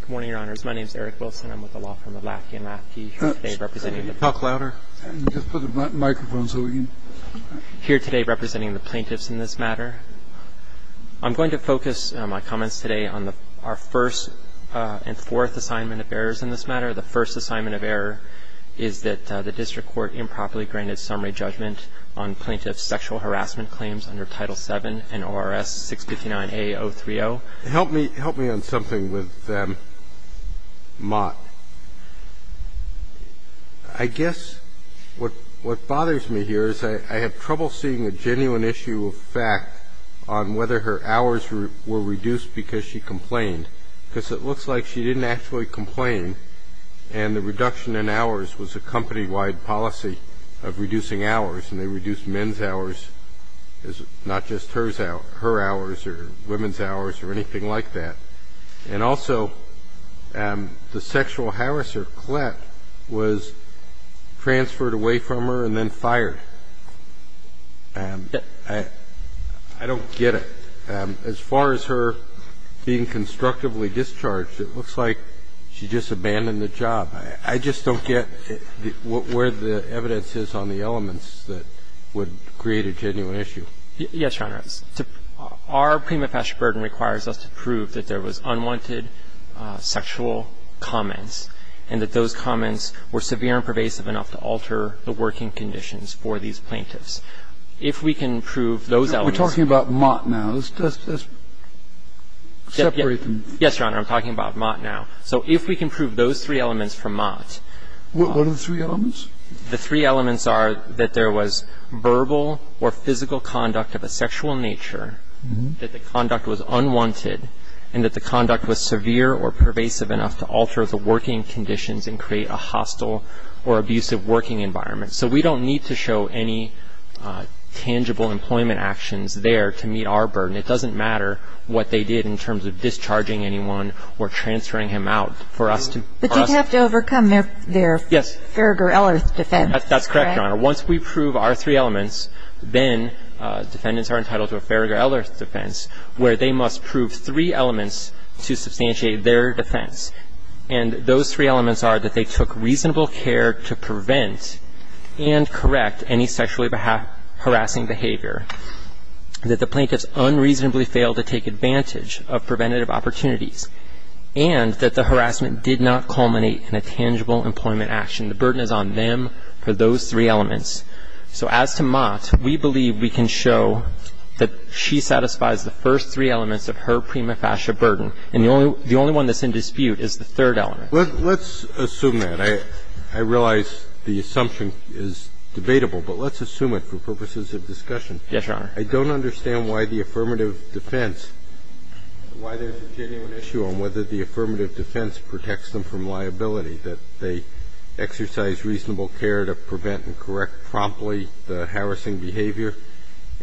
Good morning, Your Honors. My name is Eric Wilson. I'm with the law firm of Latke & Latke, here today representing the plaintiffs in this matter. I'm going to focus my comments today on our first and fourth assignment of errors in this matter. The first assignment of error is that the District Court improperly granted summary judgment on plaintiffs' sexual harassment claims under Title VII and ORS 659A-030. Help me on something with Mott. I guess what bothers me here is I have trouble seeing a genuine issue of fact on whether her hours were reduced because she complained, because it looks like she didn't actually complain, and the reduction in hours was a company-wide policy of reducing hours, and they reduced men's hours, not just her hours or women's hours or anything like that. And also, the sexual harasser, Klett, was transferred away from her and then fired. I don't get it. As far as her being constructively discharged, it looks like she just abandoned the job. I just don't get where the evidence is on the elements that would create a genuine issue. Yes, Your Honor. Our prima facie burden requires us to prove that there was unwanted sexual comments and that those comments were severe and pervasive enough to alter the working conditions for these plaintiffs. If we can prove those elements to be true. We're talking about Mott now. Separate them. Yes, Your Honor. I'm talking about Mott now. So if we can prove those three elements from Mott. What are the three elements? The three elements are that there was verbal or physical conduct of a sexual nature, that the conduct was unwanted, and that the conduct was severe or pervasive enough to alter the working conditions and create a hostile or abusive working environment. So we don't need to show any tangible employment actions there to meet our burden. It doesn't matter what they did in terms of discharging anyone or transferring him out. But you'd have to overcome their Farragher-Ellis defense. That's correct, Your Honor. Once we prove our three elements, then defendants are entitled to a Farragher-Ellis defense where they must prove three elements to substantiate their defense. And those three elements are that they took reasonable care to prevent and correct any sexually harassing behavior, that the plaintiffs unreasonably failed to take advantage of preventative opportunities, and that the harassment did not culminate in a tangible employment action. The burden is on them for those three elements. So as to Mott, we believe we can show that she satisfies the first three elements of her prima facie burden. And the only one that's in dispute is the third element. Let's assume that. I realize the assumption is debatable, but let's assume it for purposes of discussion. Yes, Your Honor. I don't understand why the affirmative defense, why there's a genuine issue on whether the affirmative defense protects them from liability, that they exercise reasonable care to prevent and correct promptly the harassing behavior,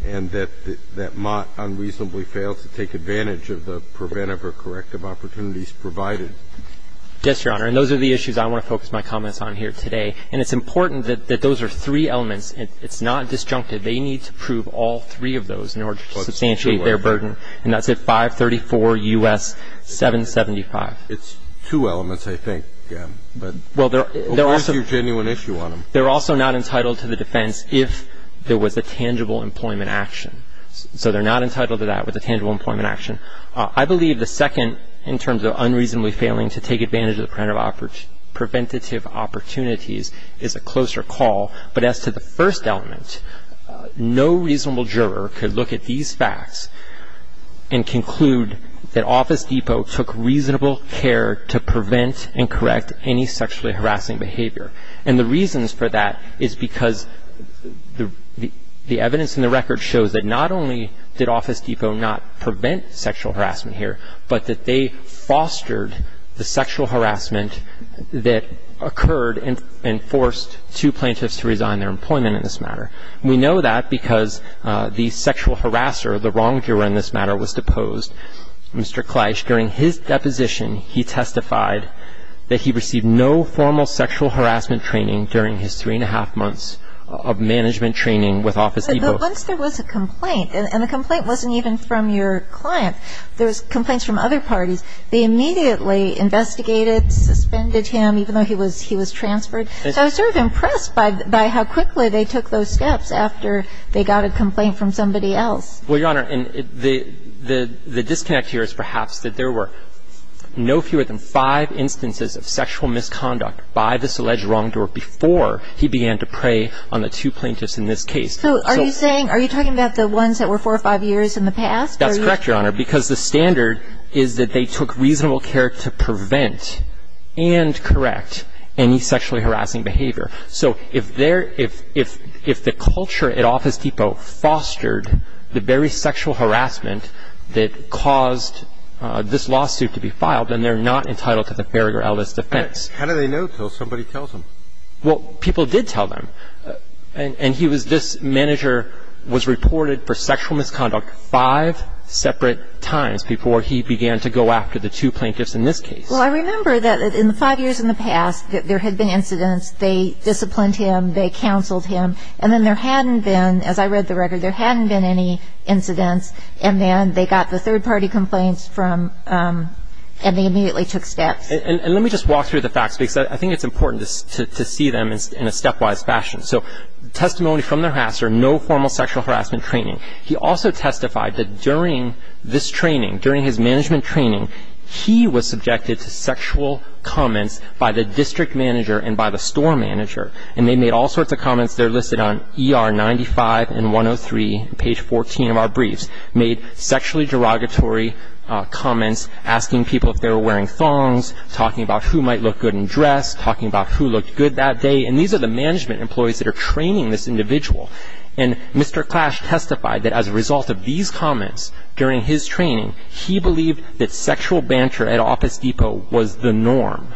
and that Mott unreasonably failed to take advantage of the preventative or corrective opportunities provided. Yes, Your Honor. And those are the issues I want to focus my comments on here today. And it's important that those are three elements. It's not disjunctive. They need to prove all three of those in order to substantiate their burden. And that's at 534 U.S. 775. It's two elements, I think. But there's your genuine issue on them. They're also not entitled to the defense if there was a tangible employment action. So they're not entitled to that with a tangible employment action. I believe the second, in terms of unreasonably failing to take advantage of the preventative opportunities, is a closer call. But as to the first element, no reasonable juror could look at these facts and conclude that Office Depot took reasonable care to prevent and correct any sexually harassing behavior. And the reasons for that is because the evidence in the record shows that not only did Office Depot not prevent sexual harassment here, but that they fostered the sexual harassment that occurred and forced two plaintiffs to resign their employment in this matter. And we know that because the sexual harasser, the wrong juror in this matter, was deposed. Mr. Kleisch, during his deposition, he testified that he received no formal sexual harassment training during his three and a half months of management training with Office Depot. Once there was a complaint, and the complaint wasn't even from your client, there was complaints from other parties, they immediately investigated, suspended him, even though he was transferred. I was sort of impressed by how quickly they took those steps after they got a complaint from somebody else. Well, Your Honor, the disconnect here is perhaps that there were no fewer than five instances of sexual misconduct by this alleged wrong juror before he began to prey on the two plaintiffs in this case. So are you saying – are you talking about the ones that were four or five years in the past? That's correct, Your Honor, because the standard is that they took reasonable care to prevent and correct any sexually harassing behavior. So if there – if the culture at Office Depot fostered the very sexual harassment that caused this lawsuit to be filed, then they're not entitled to the Ferragore Ellis defense. How do they know until somebody tells them? Well, people did tell them. And he was – this manager was reported for sexual misconduct five separate times before he began to go after the two plaintiffs in this case. Well, I remember that in the five years in the past, there had been incidents, they disciplined him, they counseled him, and then there hadn't been – as I read the record, there hadn't been any incidents, and then they got the third-party complaints from – and they immediately took steps. And let me just walk through the facts, because I think it's important to see them in a stepwise fashion. So testimony from the harasser, no formal sexual harassment training. He also testified that during this training, during his management training, he was subjected to sexual comments by the district manager and by the store manager. And they made all sorts of comments. They're listed on ER 95 and 103, page 14 of our briefs. Made sexually derogatory comments, asking people if they were wearing thongs, talking about who might look good in dress, talking about who looked good that day. And these are the management employees that are training this individual. And Mr. Clash testified that as a result of these comments during his training, he believed that sexual banter at Office Depot was the norm.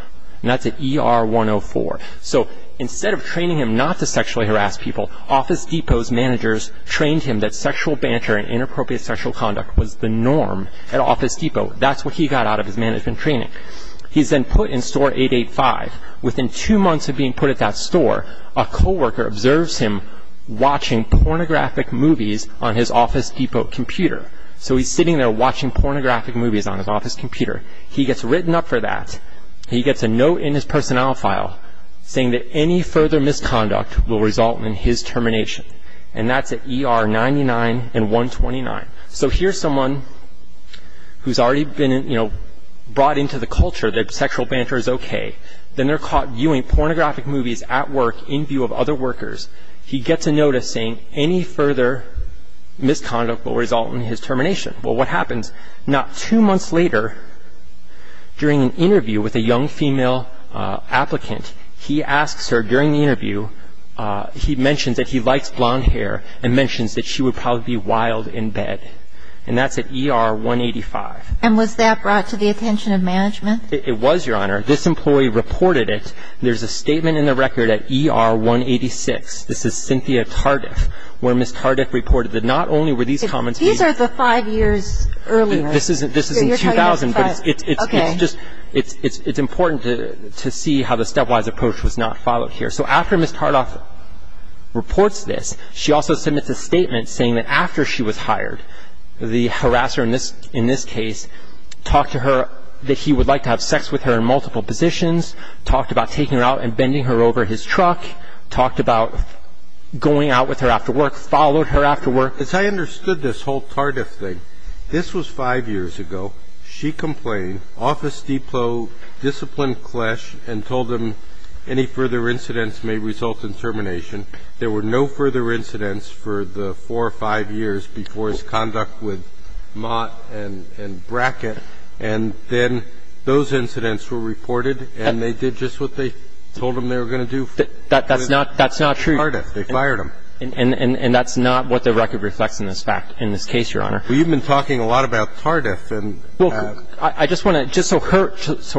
And that's at ER 104. So instead of training him not to sexually harass people, Office Depot's managers trained him that sexual banter and inappropriate sexual conduct was the norm at Office Depot. That's what he got out of his management training. He's then put in Store 885. Within two months of being put at that store, a co-worker observes him watching pornographic movies on his Office Depot computer. So he's sitting there watching pornographic movies on his office computer. He gets written up for that. He gets a note in his personnel file saying that any further misconduct will result in his termination. And that's at ER 99 and 129. So here's someone who's already been, you know, brought into the culture that sexual banter is okay. Then they're caught viewing pornographic movies at work in view of other workers. He gets a note saying any further misconduct will result in his termination. Well, what happens? Now, two months later, during an interview with a young female applicant, he asks her during the interview, he mentions that he likes blonde hair and mentions that she would probably be wild in bed. And that's at ER 185. And was that brought to the attention of management? It was, Your Honor. This employee reported it. There's a statement in the record at ER 186. This is Cynthia Tardiff where Ms. Tardiff reported that not only were these comments made These are the five years earlier. This is in 2000, but it's important to see how the stepwise approach was not followed here. So after Ms. Tardiff reports this, she also submits a statement saying that after she was hired, the harasser in this case talked to her that he would like to have sex with her in multiple positions, talked about taking her out and bending her over his truck, talked about going out with her after work, followed her after work. As I understood this whole Tardiff thing, this was five years ago. She complained, Office Depot disciplined Klesch and told him any further incidents may result in termination. There were no further incidents for the four or five years before his conduct with Mott and Brackett. And then those incidents were reported, and they did just what they told him they were going to do. That's not true. Tardiff. They fired him. And that's not what the record reflects in this fact, in this case, Your Honor. Well, you've been talking a lot about Tardiff. Well, I just want to, just so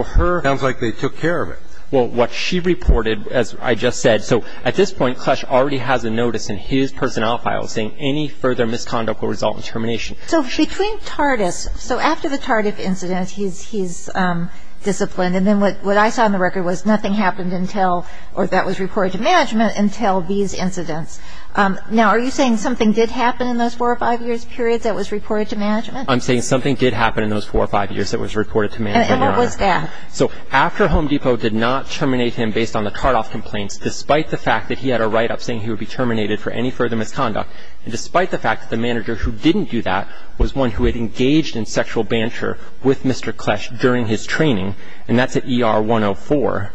her. Sounds like they took care of it. Well, what she reported, as I just said. So at this point, Klesch already has a notice in his personnel file saying any further misconduct will result in termination. So between Tardiff, so after the Tardiff incident, he's disciplined. And then what I saw in the record was nothing happened until, or that was reported to management until these incidents. Now, are you saying something did happen in those four or five years period that was reported to management? I'm saying something did happen in those four or five years that was reported to management, Your Honor. And what was that? So after Home Depot did not terminate him based on the Tardiff complaints, despite the fact that he had a write-up saying he would be terminated for any further misconduct, and despite the fact that the manager who didn't do that was one who had engaged in sexual banter with Mr. Klesch during his training, and that's at ER 104.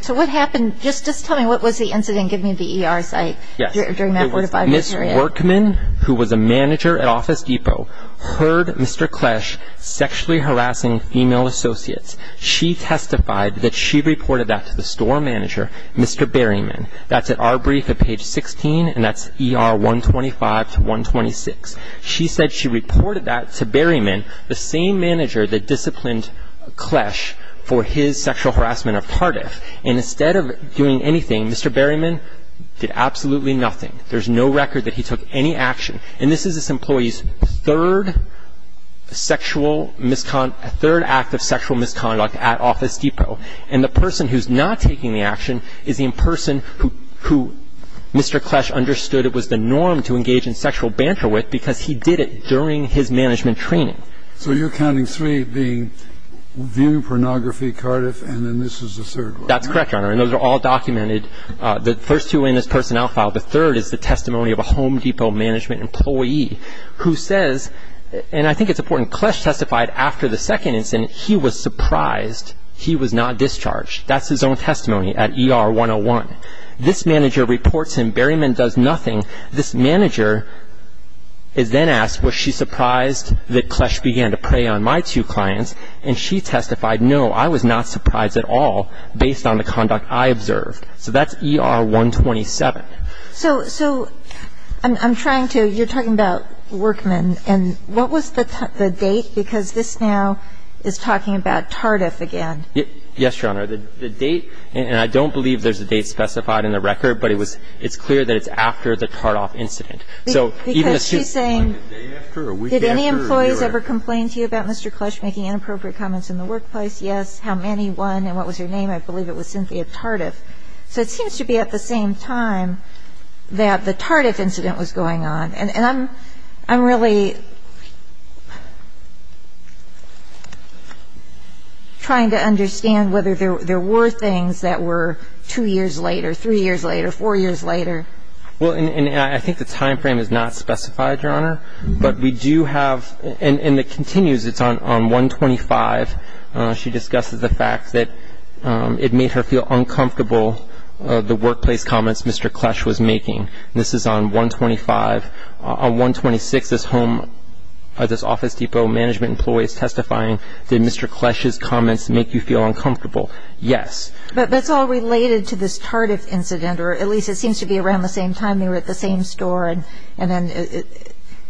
So what happened? Just tell me, what was the incident? Give me the ER site during that four to five year period. Ms. Workman, who was a manager at Office Depot, heard Mr. Klesch sexually harassing female associates. She testified that she reported that to the store manager, Mr. Berryman. That's at our brief at page 16, and that's ER 125 to 126. She said she reported that to Berryman, the same manager that disciplined Klesch for his sexual harassment of Tardiff. And instead of doing anything, Mr. Berryman did absolutely nothing. There's no record that he took any action. And this is this employee's third sexual misconduct, third act of sexual misconduct at Office Depot. And the person who's not taking the action is the person who Mr. Klesch understood it was the norm to engage in sexual banter with because he did it during his management training. So you're counting three being viewing pornography, Tardiff, and then this is the third one. That's correct, Your Honor, and those are all documented. The first two are in his personnel file. The third is the testimony of a Home Depot management employee who says, and I think it's important, Klesch testified after the second incident he was surprised he was not discharged. That's his own testimony at ER 101. This manager reports him, Berryman does nothing. This manager is then asked, was she surprised that Klesch began to prey on my two clients? And she testified, no, I was not surprised at all based on the conduct I observed. So that's ER 127. So I'm trying to, you're talking about Workman, and what was the date? Because this now is talking about Tardiff again. Yes, Your Honor. The date, and I don't believe there's a date specified in the record, but it's clear that it's after the Tardiff incident. Because she's saying, did any employees ever complain to you about Mr. Klesch making inappropriate comments in the workplace? Yes. How many? One. And what was your name? I believe it was Cynthia Tardiff. So it seems to be at the same time that the Tardiff incident was going on. And I'm really trying to understand whether there were things that were two years later, three years later, four years later. Well, and I think the time frame is not specified, Your Honor. But we do have, and it continues, it's on 125. She discusses the fact that it made her feel uncomfortable, the workplace comments Mr. Klesch was making. This is on 125. On 126, this Home, this Office Depot management employee is testifying, did Mr. Klesch's comments make you feel uncomfortable? Yes. But it's all related to this Tardiff incident, or at least it seems to be around the same time they were at the same store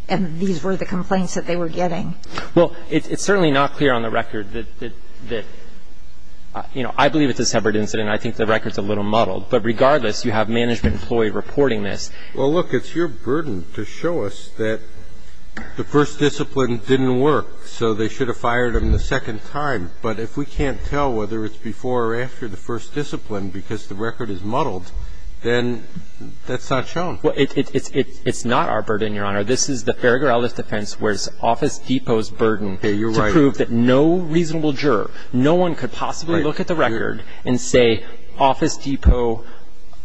and these were the complaints that they were getting. Well, it's certainly not clear on the record that, you know, I believe it's a separate incident. I think the record's a little muddled. But regardless, you have management employee reporting this. Well, look, it's your burden to show us that the first discipline didn't work, so they should have fired him the second time. But if we can't tell whether it's before or after the first discipline because the record is muddled, then that's not shown. Well, it's not our burden, Your Honor. This is the Ferragarellis defense where it's Office Depot's burden to prove that no reasonable juror, no one could possibly look at the record and say Office Depot.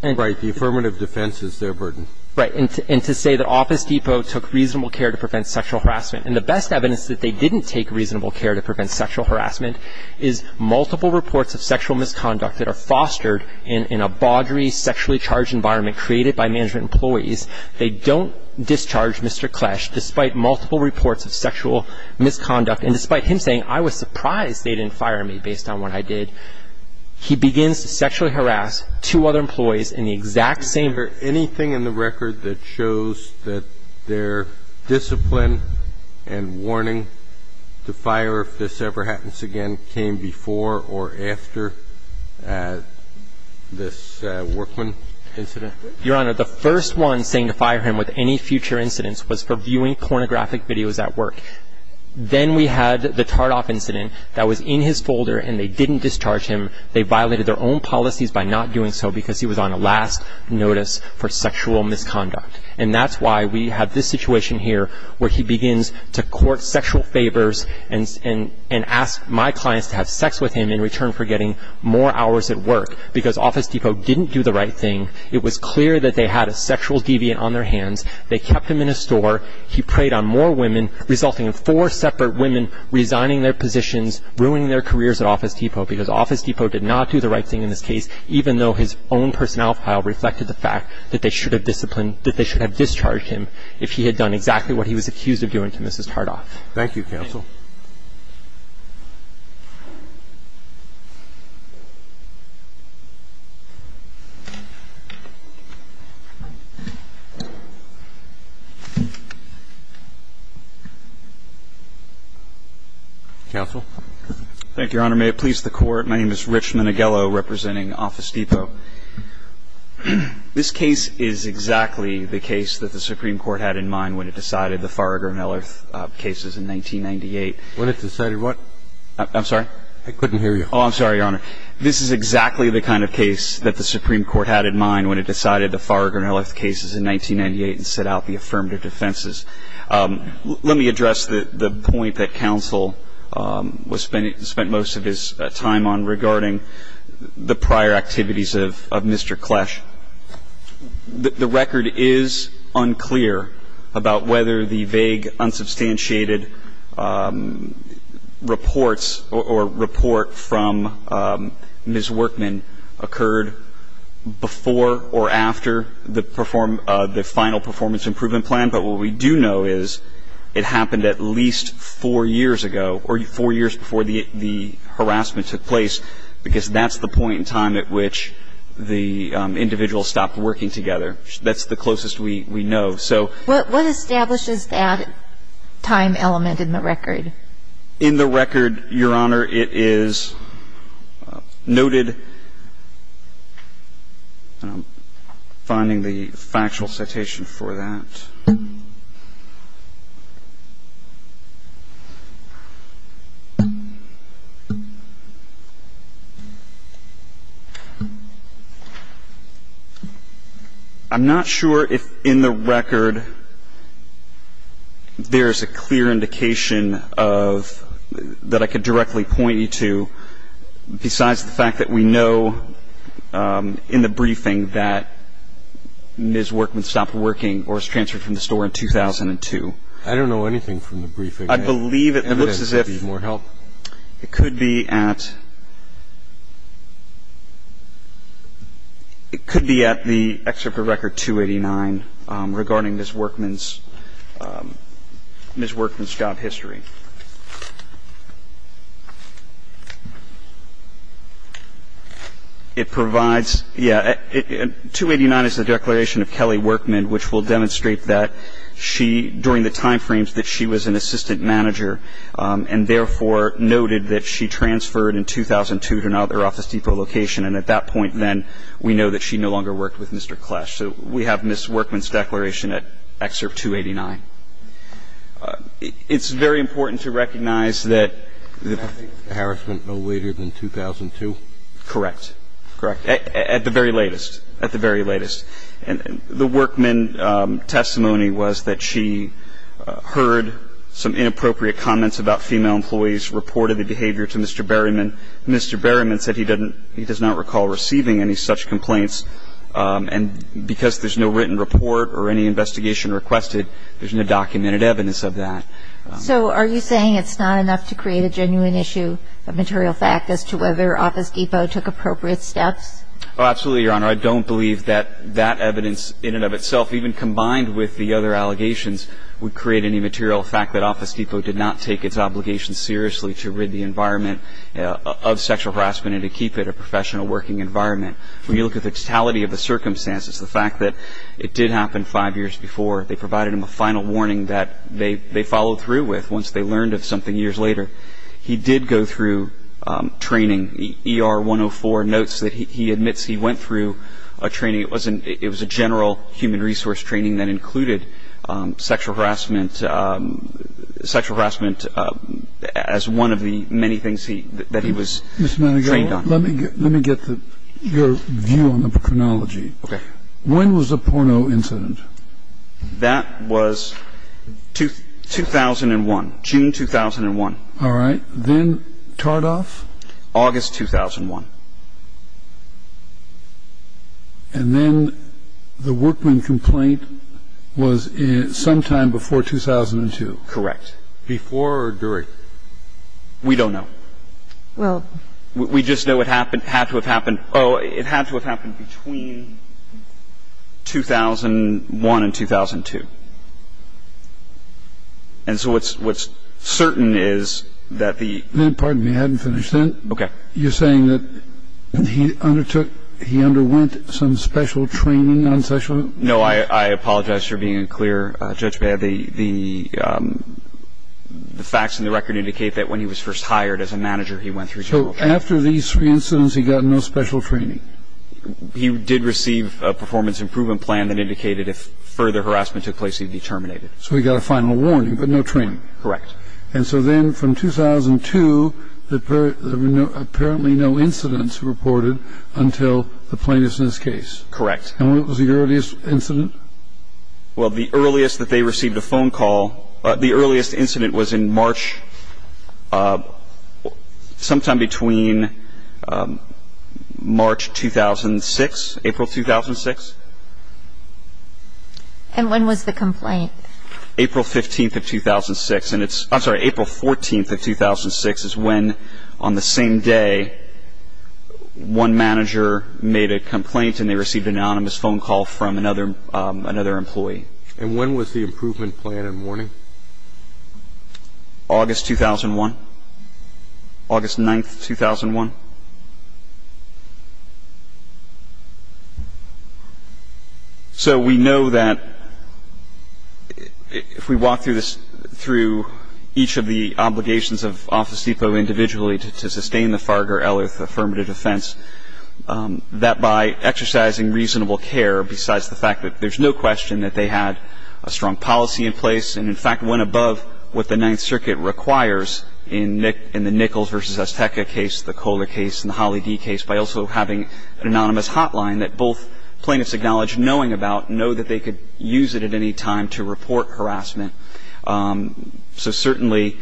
Right. The affirmative defense is their burden. Right. And to say that Office Depot took reasonable care to prevent sexual harassment. And the best evidence that they didn't take reasonable care to prevent sexual harassment is multiple reports of sexual misconduct that are fostered in a bawdry, sexually charged environment created by management employees. They don't discharge Mr. Klesch despite multiple reports of sexual misconduct. And despite him saying, I was surprised they didn't fire me based on what I did, he begins to sexually harass two other employees in the exact same way. Is there anything in the record that shows that their discipline and warning to fire if this ever happens again came before or after this workman incident? Your Honor, the first one saying to fire him with any future incidents was for viewing pornographic videos at work. Then we had the Tardoff incident that was in his folder and they didn't discharge him. They violated their own policies by not doing so because he was on a last notice for sexual misconduct. And that's why we have this situation here where he begins to court sexual favors and ask my clients to have sex with him in return for getting more hours at work. Because Office Depot didn't do the right thing. It was clear that they had a sexual deviant on their hands. They kept him in a store. He preyed on more women resulting in four separate women resigning their positions, ruining their careers at Office Depot because Office Depot did not do the right thing in this case, even though his own personnel file reflected the fact that they should have discharged him if he had done exactly what he was accused of doing to Mrs. Tardoff. Thank you, counsel. Counsel. Thank you, Your Honor. May it please the Court. My name is Rich Manighello representing Office Depot. This case is exactly the case that the Supreme Court had in mind when it decided the Farragher-Miller cases in 1998. When it decided what? I'm sorry? I couldn't hear you. Oh, I'm sorry, Your Honor. This is exactly the kind of case that the Supreme Court had in mind when it decided the Farragher-Miller cases in 1998 and set out the affirmative defenses. Let me address the point that counsel spent most of his time on regarding the prior activities of Mr. Klesch. The record is unclear about whether the vague, unsubstantiated reports or report from Ms. Workman occurred before or after the final performance improvement plan. But what we do know is it happened at least four years ago or four years before the harassment took place because that's the point in time at which the individual stopped working together. That's the closest we know. So what establishes that time element in the record? In the record, Your Honor, it is noted, and I'm finding the factual citation for that. I'm not sure if in the record there is a clear indication of that I could directly point you to besides the fact that we know that Ms. Workman stopped working or was transferred from the store in 2002. I don't know anything from the briefing. I believe it looks as if it could be at the excerpt of Record 289 regarding Ms. Workman's job history. It provides, yeah, 289 is the declaration of Kelly Workman, which will demonstrate that she, during the time frames that she was an assistant manager, and therefore noted that she transferred in 2002 to another Office Depot location, and at that point then we know that she no longer worked with Mr. Klesch. So we have Ms. Workman's declaration at Excerpt 289. It's very important to recognize that the harassment awaited in 2002? Correct. Correct. At the very latest. At the very latest. And the Workman testimony was that she heard some inappropriate comments about female employees, reported the behavior to Mr. Berryman. Mr. Berryman said he doesn't he does not recall receiving any such complaints. And because there's no written report or any investigation requested, there's no documented evidence of that. So are you saying it's not enough to create a genuine issue of material fact as to whether Office Depot took appropriate steps? Oh, absolutely, Your Honor. I don't believe that that evidence in and of itself, even combined with the other allegations, would create any material fact that Office Depot did not take its obligation seriously to rid the environment of sexual harassment and to keep it a professional working environment. When you look at the totality of the circumstances, the fact that it did happen five years before, they provided him a final warning that they followed through with once they learned of something years later. He did go through training. ER 104 notes that he admits he went through a training. It was a general human resource training that included sexual harassment as one of the many things that he was trained on. Mr. Manigault, let me get your view on the chronology. Okay. When was the porno incident? That was 2001, June 2001. All right. Then Tardoff? August 2001. And then the workman complaint was sometime before 2002? Correct. Before or during? We don't know. Well. We just know it had to have happened between 2001 and 2002. And so what's certain is that the — Pardon me. I hadn't finished yet. Okay. You're saying that he undertook — he underwent some special training on sexual — No. I apologize for being unclear. The facts in the record indicate that when he was first hired as a manager, he went through general training. So after these three incidents, he got no special training? He did receive a performance improvement plan that indicated if further harassment took place, he'd be terminated. So he got a final warning, but no training? Correct. And so then from 2002, there were apparently no incidents reported until the plaintiff's case? Correct. And what was the earliest incident? Well, the earliest that they received a phone call — the earliest incident was in March — sometime between March 2006, April 2006. And when was the complaint? April 15th of 2006. And it's — I'm sorry, April 14th of 2006 is when, on the same day, one manager made a complaint and they received an anonymous phone call from another employee. And when was the improvement plan and warning? August 2001. August 9th, 2001. So we know that if we walk through each of the obligations of Office Depot individually to sustain the Farger-Ellerth affirmative defense, that by exercising reasonable care, besides the fact that there's no question that they had a strong policy in place and, in fact, went above what the Ninth Circuit requires in the Nichols v. Azteca case, the Kohler case and the Holly D. case, by also having an anonymous hotline that both plaintiffs acknowledge knowing about and know that they could use it at any time to report harassment. So certainly,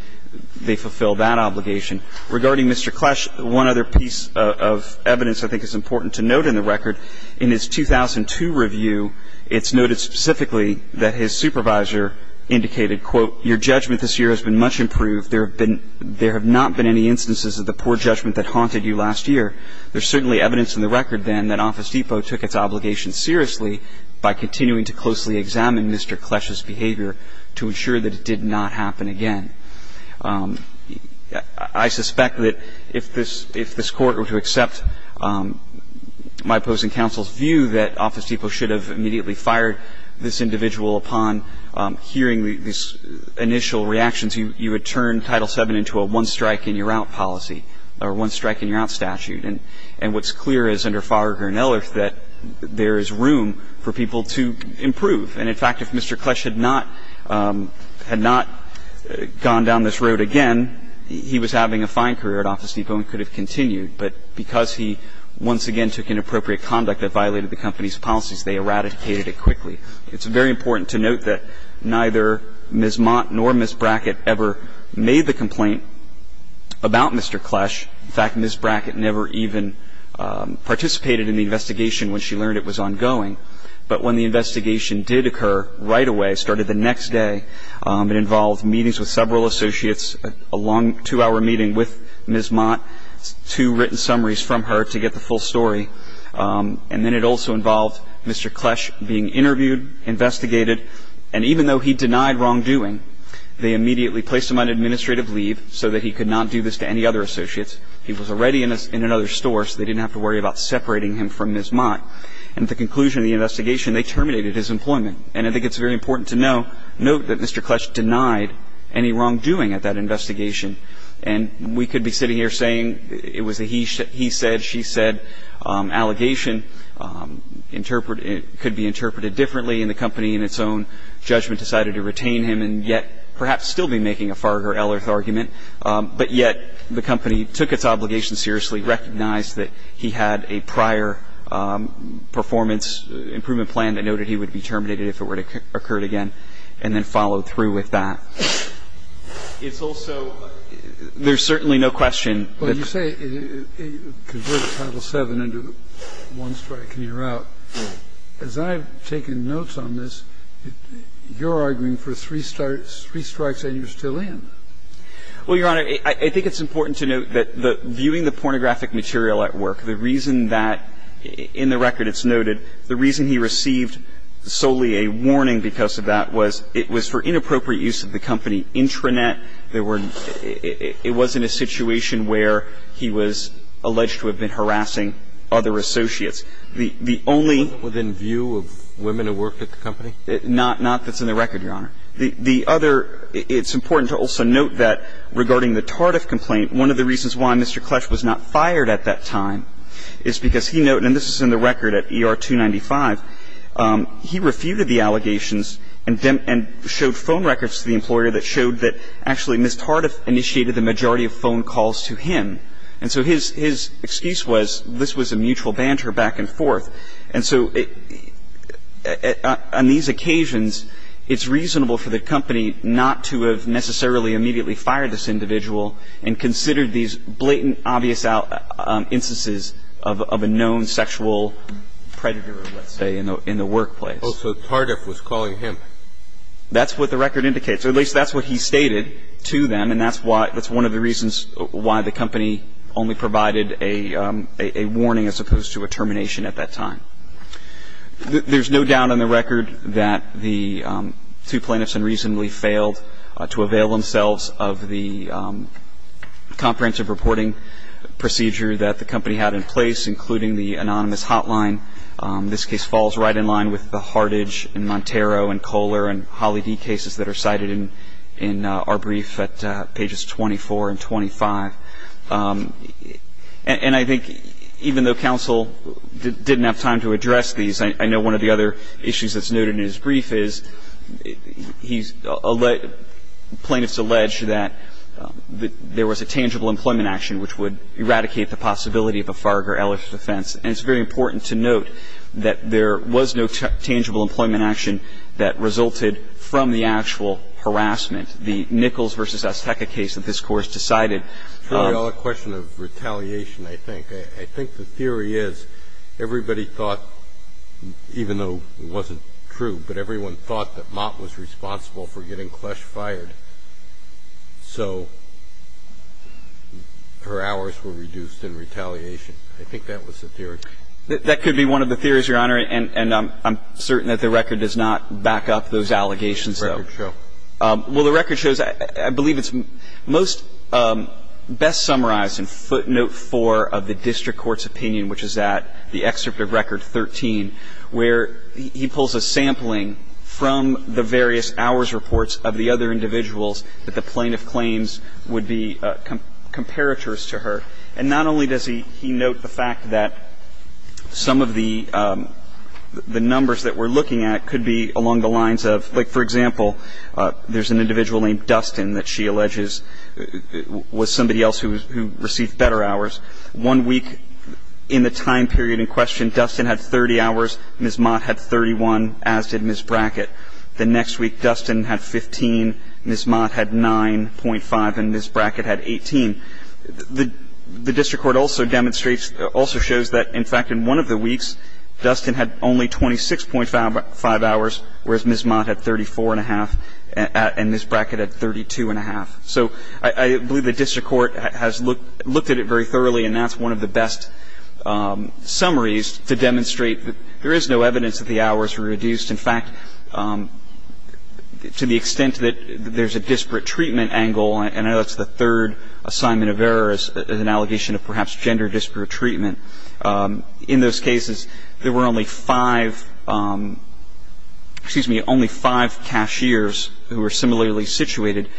they fulfill that obligation. Regarding Mr. Clash, one other piece of evidence I think is important to note in the record, in his 2002 review, it's noted specifically that his supervisor indicated, quote, Your judgment this year has been much improved. There have not been any instances of the poor judgment that haunted you last year. There's certainly evidence in the record, then, that Office Depot took its obligation seriously by continuing to closely examine Mr. Clash's behavior to ensure that it did not happen again. I suspect that if this Court were to accept my opposing counsel's view that Office Depot should have immediately fired this individual upon hearing these initial reactions, you would turn Title VII into a one-strike-and-you're-out policy or a one-strike-and-you're-out statute. And what's clear is, under Faragher and Ehlers, that there is room for people to improve. And, in fact, if Mr. Clash had not gone down this road again, he was having a fine career at Office Depot and could have continued. But because he once again took inappropriate conduct that violated the company's policies, they eradicated it quickly. It's very important to note that neither Ms. Mott nor Ms. Brackett ever made the complaint about Mr. Clash. In fact, Ms. Brackett never even participated in the investigation when she learned it was ongoing. But when the investigation did occur right away, started the next day, it involved meetings with several associates, a long two-hour meeting with Ms. Mott, two written summaries from her to get the full story. And then it also involved Mr. Clash being interviewed, investigated, and even though he denied wrongdoing, they immediately placed him on administrative leave so that he could not do this to any other associates. He was already in another store, so they didn't have to worry about separating him from Ms. Mott. And at the conclusion of the investigation, they terminated his employment. And I think it's very important to note that Mr. Clash denied any wrongdoing at that investigation. And we could be sitting here saying it was a he said, she said, allegation could be interpreted differently, and the company in its own judgment decided to retain him and yet perhaps still be making a Farger-Ellerth argument. But yet the company took its obligation seriously, recognized that he had a prior performance improvement plan that noted he would be terminated if it were to occur again, and then followed through with that. It's also there's certainly no question that. Kennedy. Well, you say it converts Title VII into one strike and you're out. As I've taken notes on this, you're arguing for three strikes and you're still in. Well, Your Honor, I think it's important to note that viewing the pornographic material at work, the reason that in the record it's noted, the reason he received solely a warning because of that was it was for inappropriate use of the company intranet. There were, it wasn't a situation where he was alleged to have been harassing other associates. The only. Within view of women who worked at the company? Not that's in the record, Your Honor. The other, it's important to also note that regarding the Tardif complaint, one of the reasons why Mr. Clash was not fired at that time is because he noted that Mr. Tardif, who was a mutual banter back and forth, and this is in the record at ER 295, he refuted the allegations and showed phone records to the employer that showed that actually Ms. Tardif initiated the majority of phone calls to him. And so his excuse was this was a mutual banter back and forth. And so on these occasions, it's reasonable for the company not to have necessarily immediately fired this individual and considered these blatant, obvious instances of a known sexual predator, let's say, in the workplace. Oh, so Tardif was calling him? That's what the record indicates, or at least that's what he stated to them, and that's why, that's one of the reasons why the company only provided a warning as opposed to a termination at that time. There's no doubt in the record that the two plaintiffs had reasonably failed to avail themselves of the comprehensive reporting procedure that the company had in place, including the anonymous hotline. This case falls right in line with the Hartage and Montero and Kohler and Holley D cases that are cited in our brief at pages 24 and 25. And I think even though counsel didn't have time to address these, I know one of the other issues that's noted in his brief is he's – plaintiffs allege that there was a tangible employment action which would eradicate the possibility of a Farger Ellis offense. And it's very important to note that there was no tangible employment action that resulted from the actual harassment. The Nichols v. Azteca case that this Court has decided – It's really all a question of retaliation, I think. I think the theory is everybody thought, even though it wasn't true, but everyone thought that Mott was responsible for getting Klesch fired. So her hours were reduced in retaliation. I think that was the theory. That could be one of the theories, Your Honor, and I'm certain that the record does not back up those allegations, though. It's very true. Well, the record shows – I believe it's most – best summarized in footnote 4 of the district court's opinion, which is at the excerpt of record 13, where he pulls a sampling from the various hours reports of the other individuals that the plaintiff claims would be comparators to her. And not only does he note the fact that some of the numbers that we're looking at could be along the lines of – like, for example, there's an individual named Dustin that she alleges was somebody else who received better hours. One week in the time period in question, Dustin had 30 hours, Ms. Mott had 31, as did Ms. Brackett. The next week, Dustin had 15, Ms. Mott had 9.5, and Ms. Brackett had 18. The district court also demonstrates – also shows that, in fact, in one of the weeks, Dustin had only 26.5 hours, whereas Ms. Mott had 34.5, and Ms. Brackett had 32.5. So I believe the district court has looked at it very thoroughly, and that's one of the best summaries to demonstrate that there is no evidence that the hours were reduced. In fact, to the extent that there's a disparate treatment angle – and I know that's the third assignment of error as an allegation of perhaps gender disparate treatment – in those cases, there were only five – excuse me – only five cashiers who were similarly situated,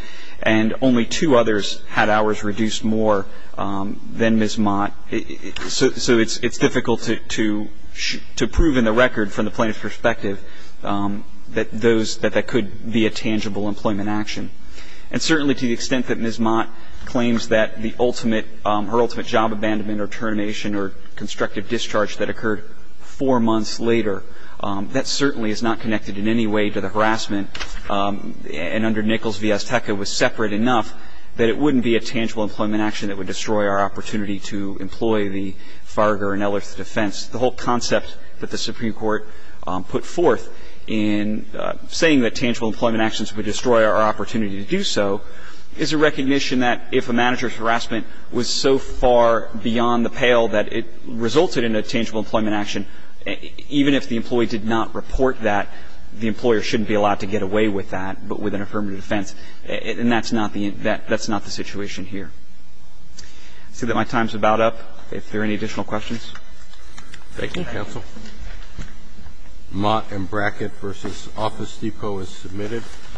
and only two others had hours reduced more than Ms. Mott. So it's difficult to prove in the record, from the plaintiff's perspective, that those – that that could be a tangible employment action. And certainly to the extent that Ms. Mott claims that the ultimate – her ultimate job abandonment or termination or constructive discharge that occurred four months later, that certainly is not connected in any way to the harassment. And under Nichols v. Azteca, it was separate enough that it wouldn't be a tangible employment action that would destroy our opportunity to employ the Farger and Ellers defense. The whole concept that the Supreme Court put forth in saying that tangible employment actions would destroy our opportunity to do so is a recognition that if a manager's actions are beyond the pale that it resulted in a tangible employment action, even if the employee did not report that, the employer shouldn't be allowed to get away with that, but with an affirmative defense. And that's not the – that's not the situation here. I see that my time is about up. If there are any additional questions. Thank you, counsel. Mott and Brackett v. Office Depot is submitted.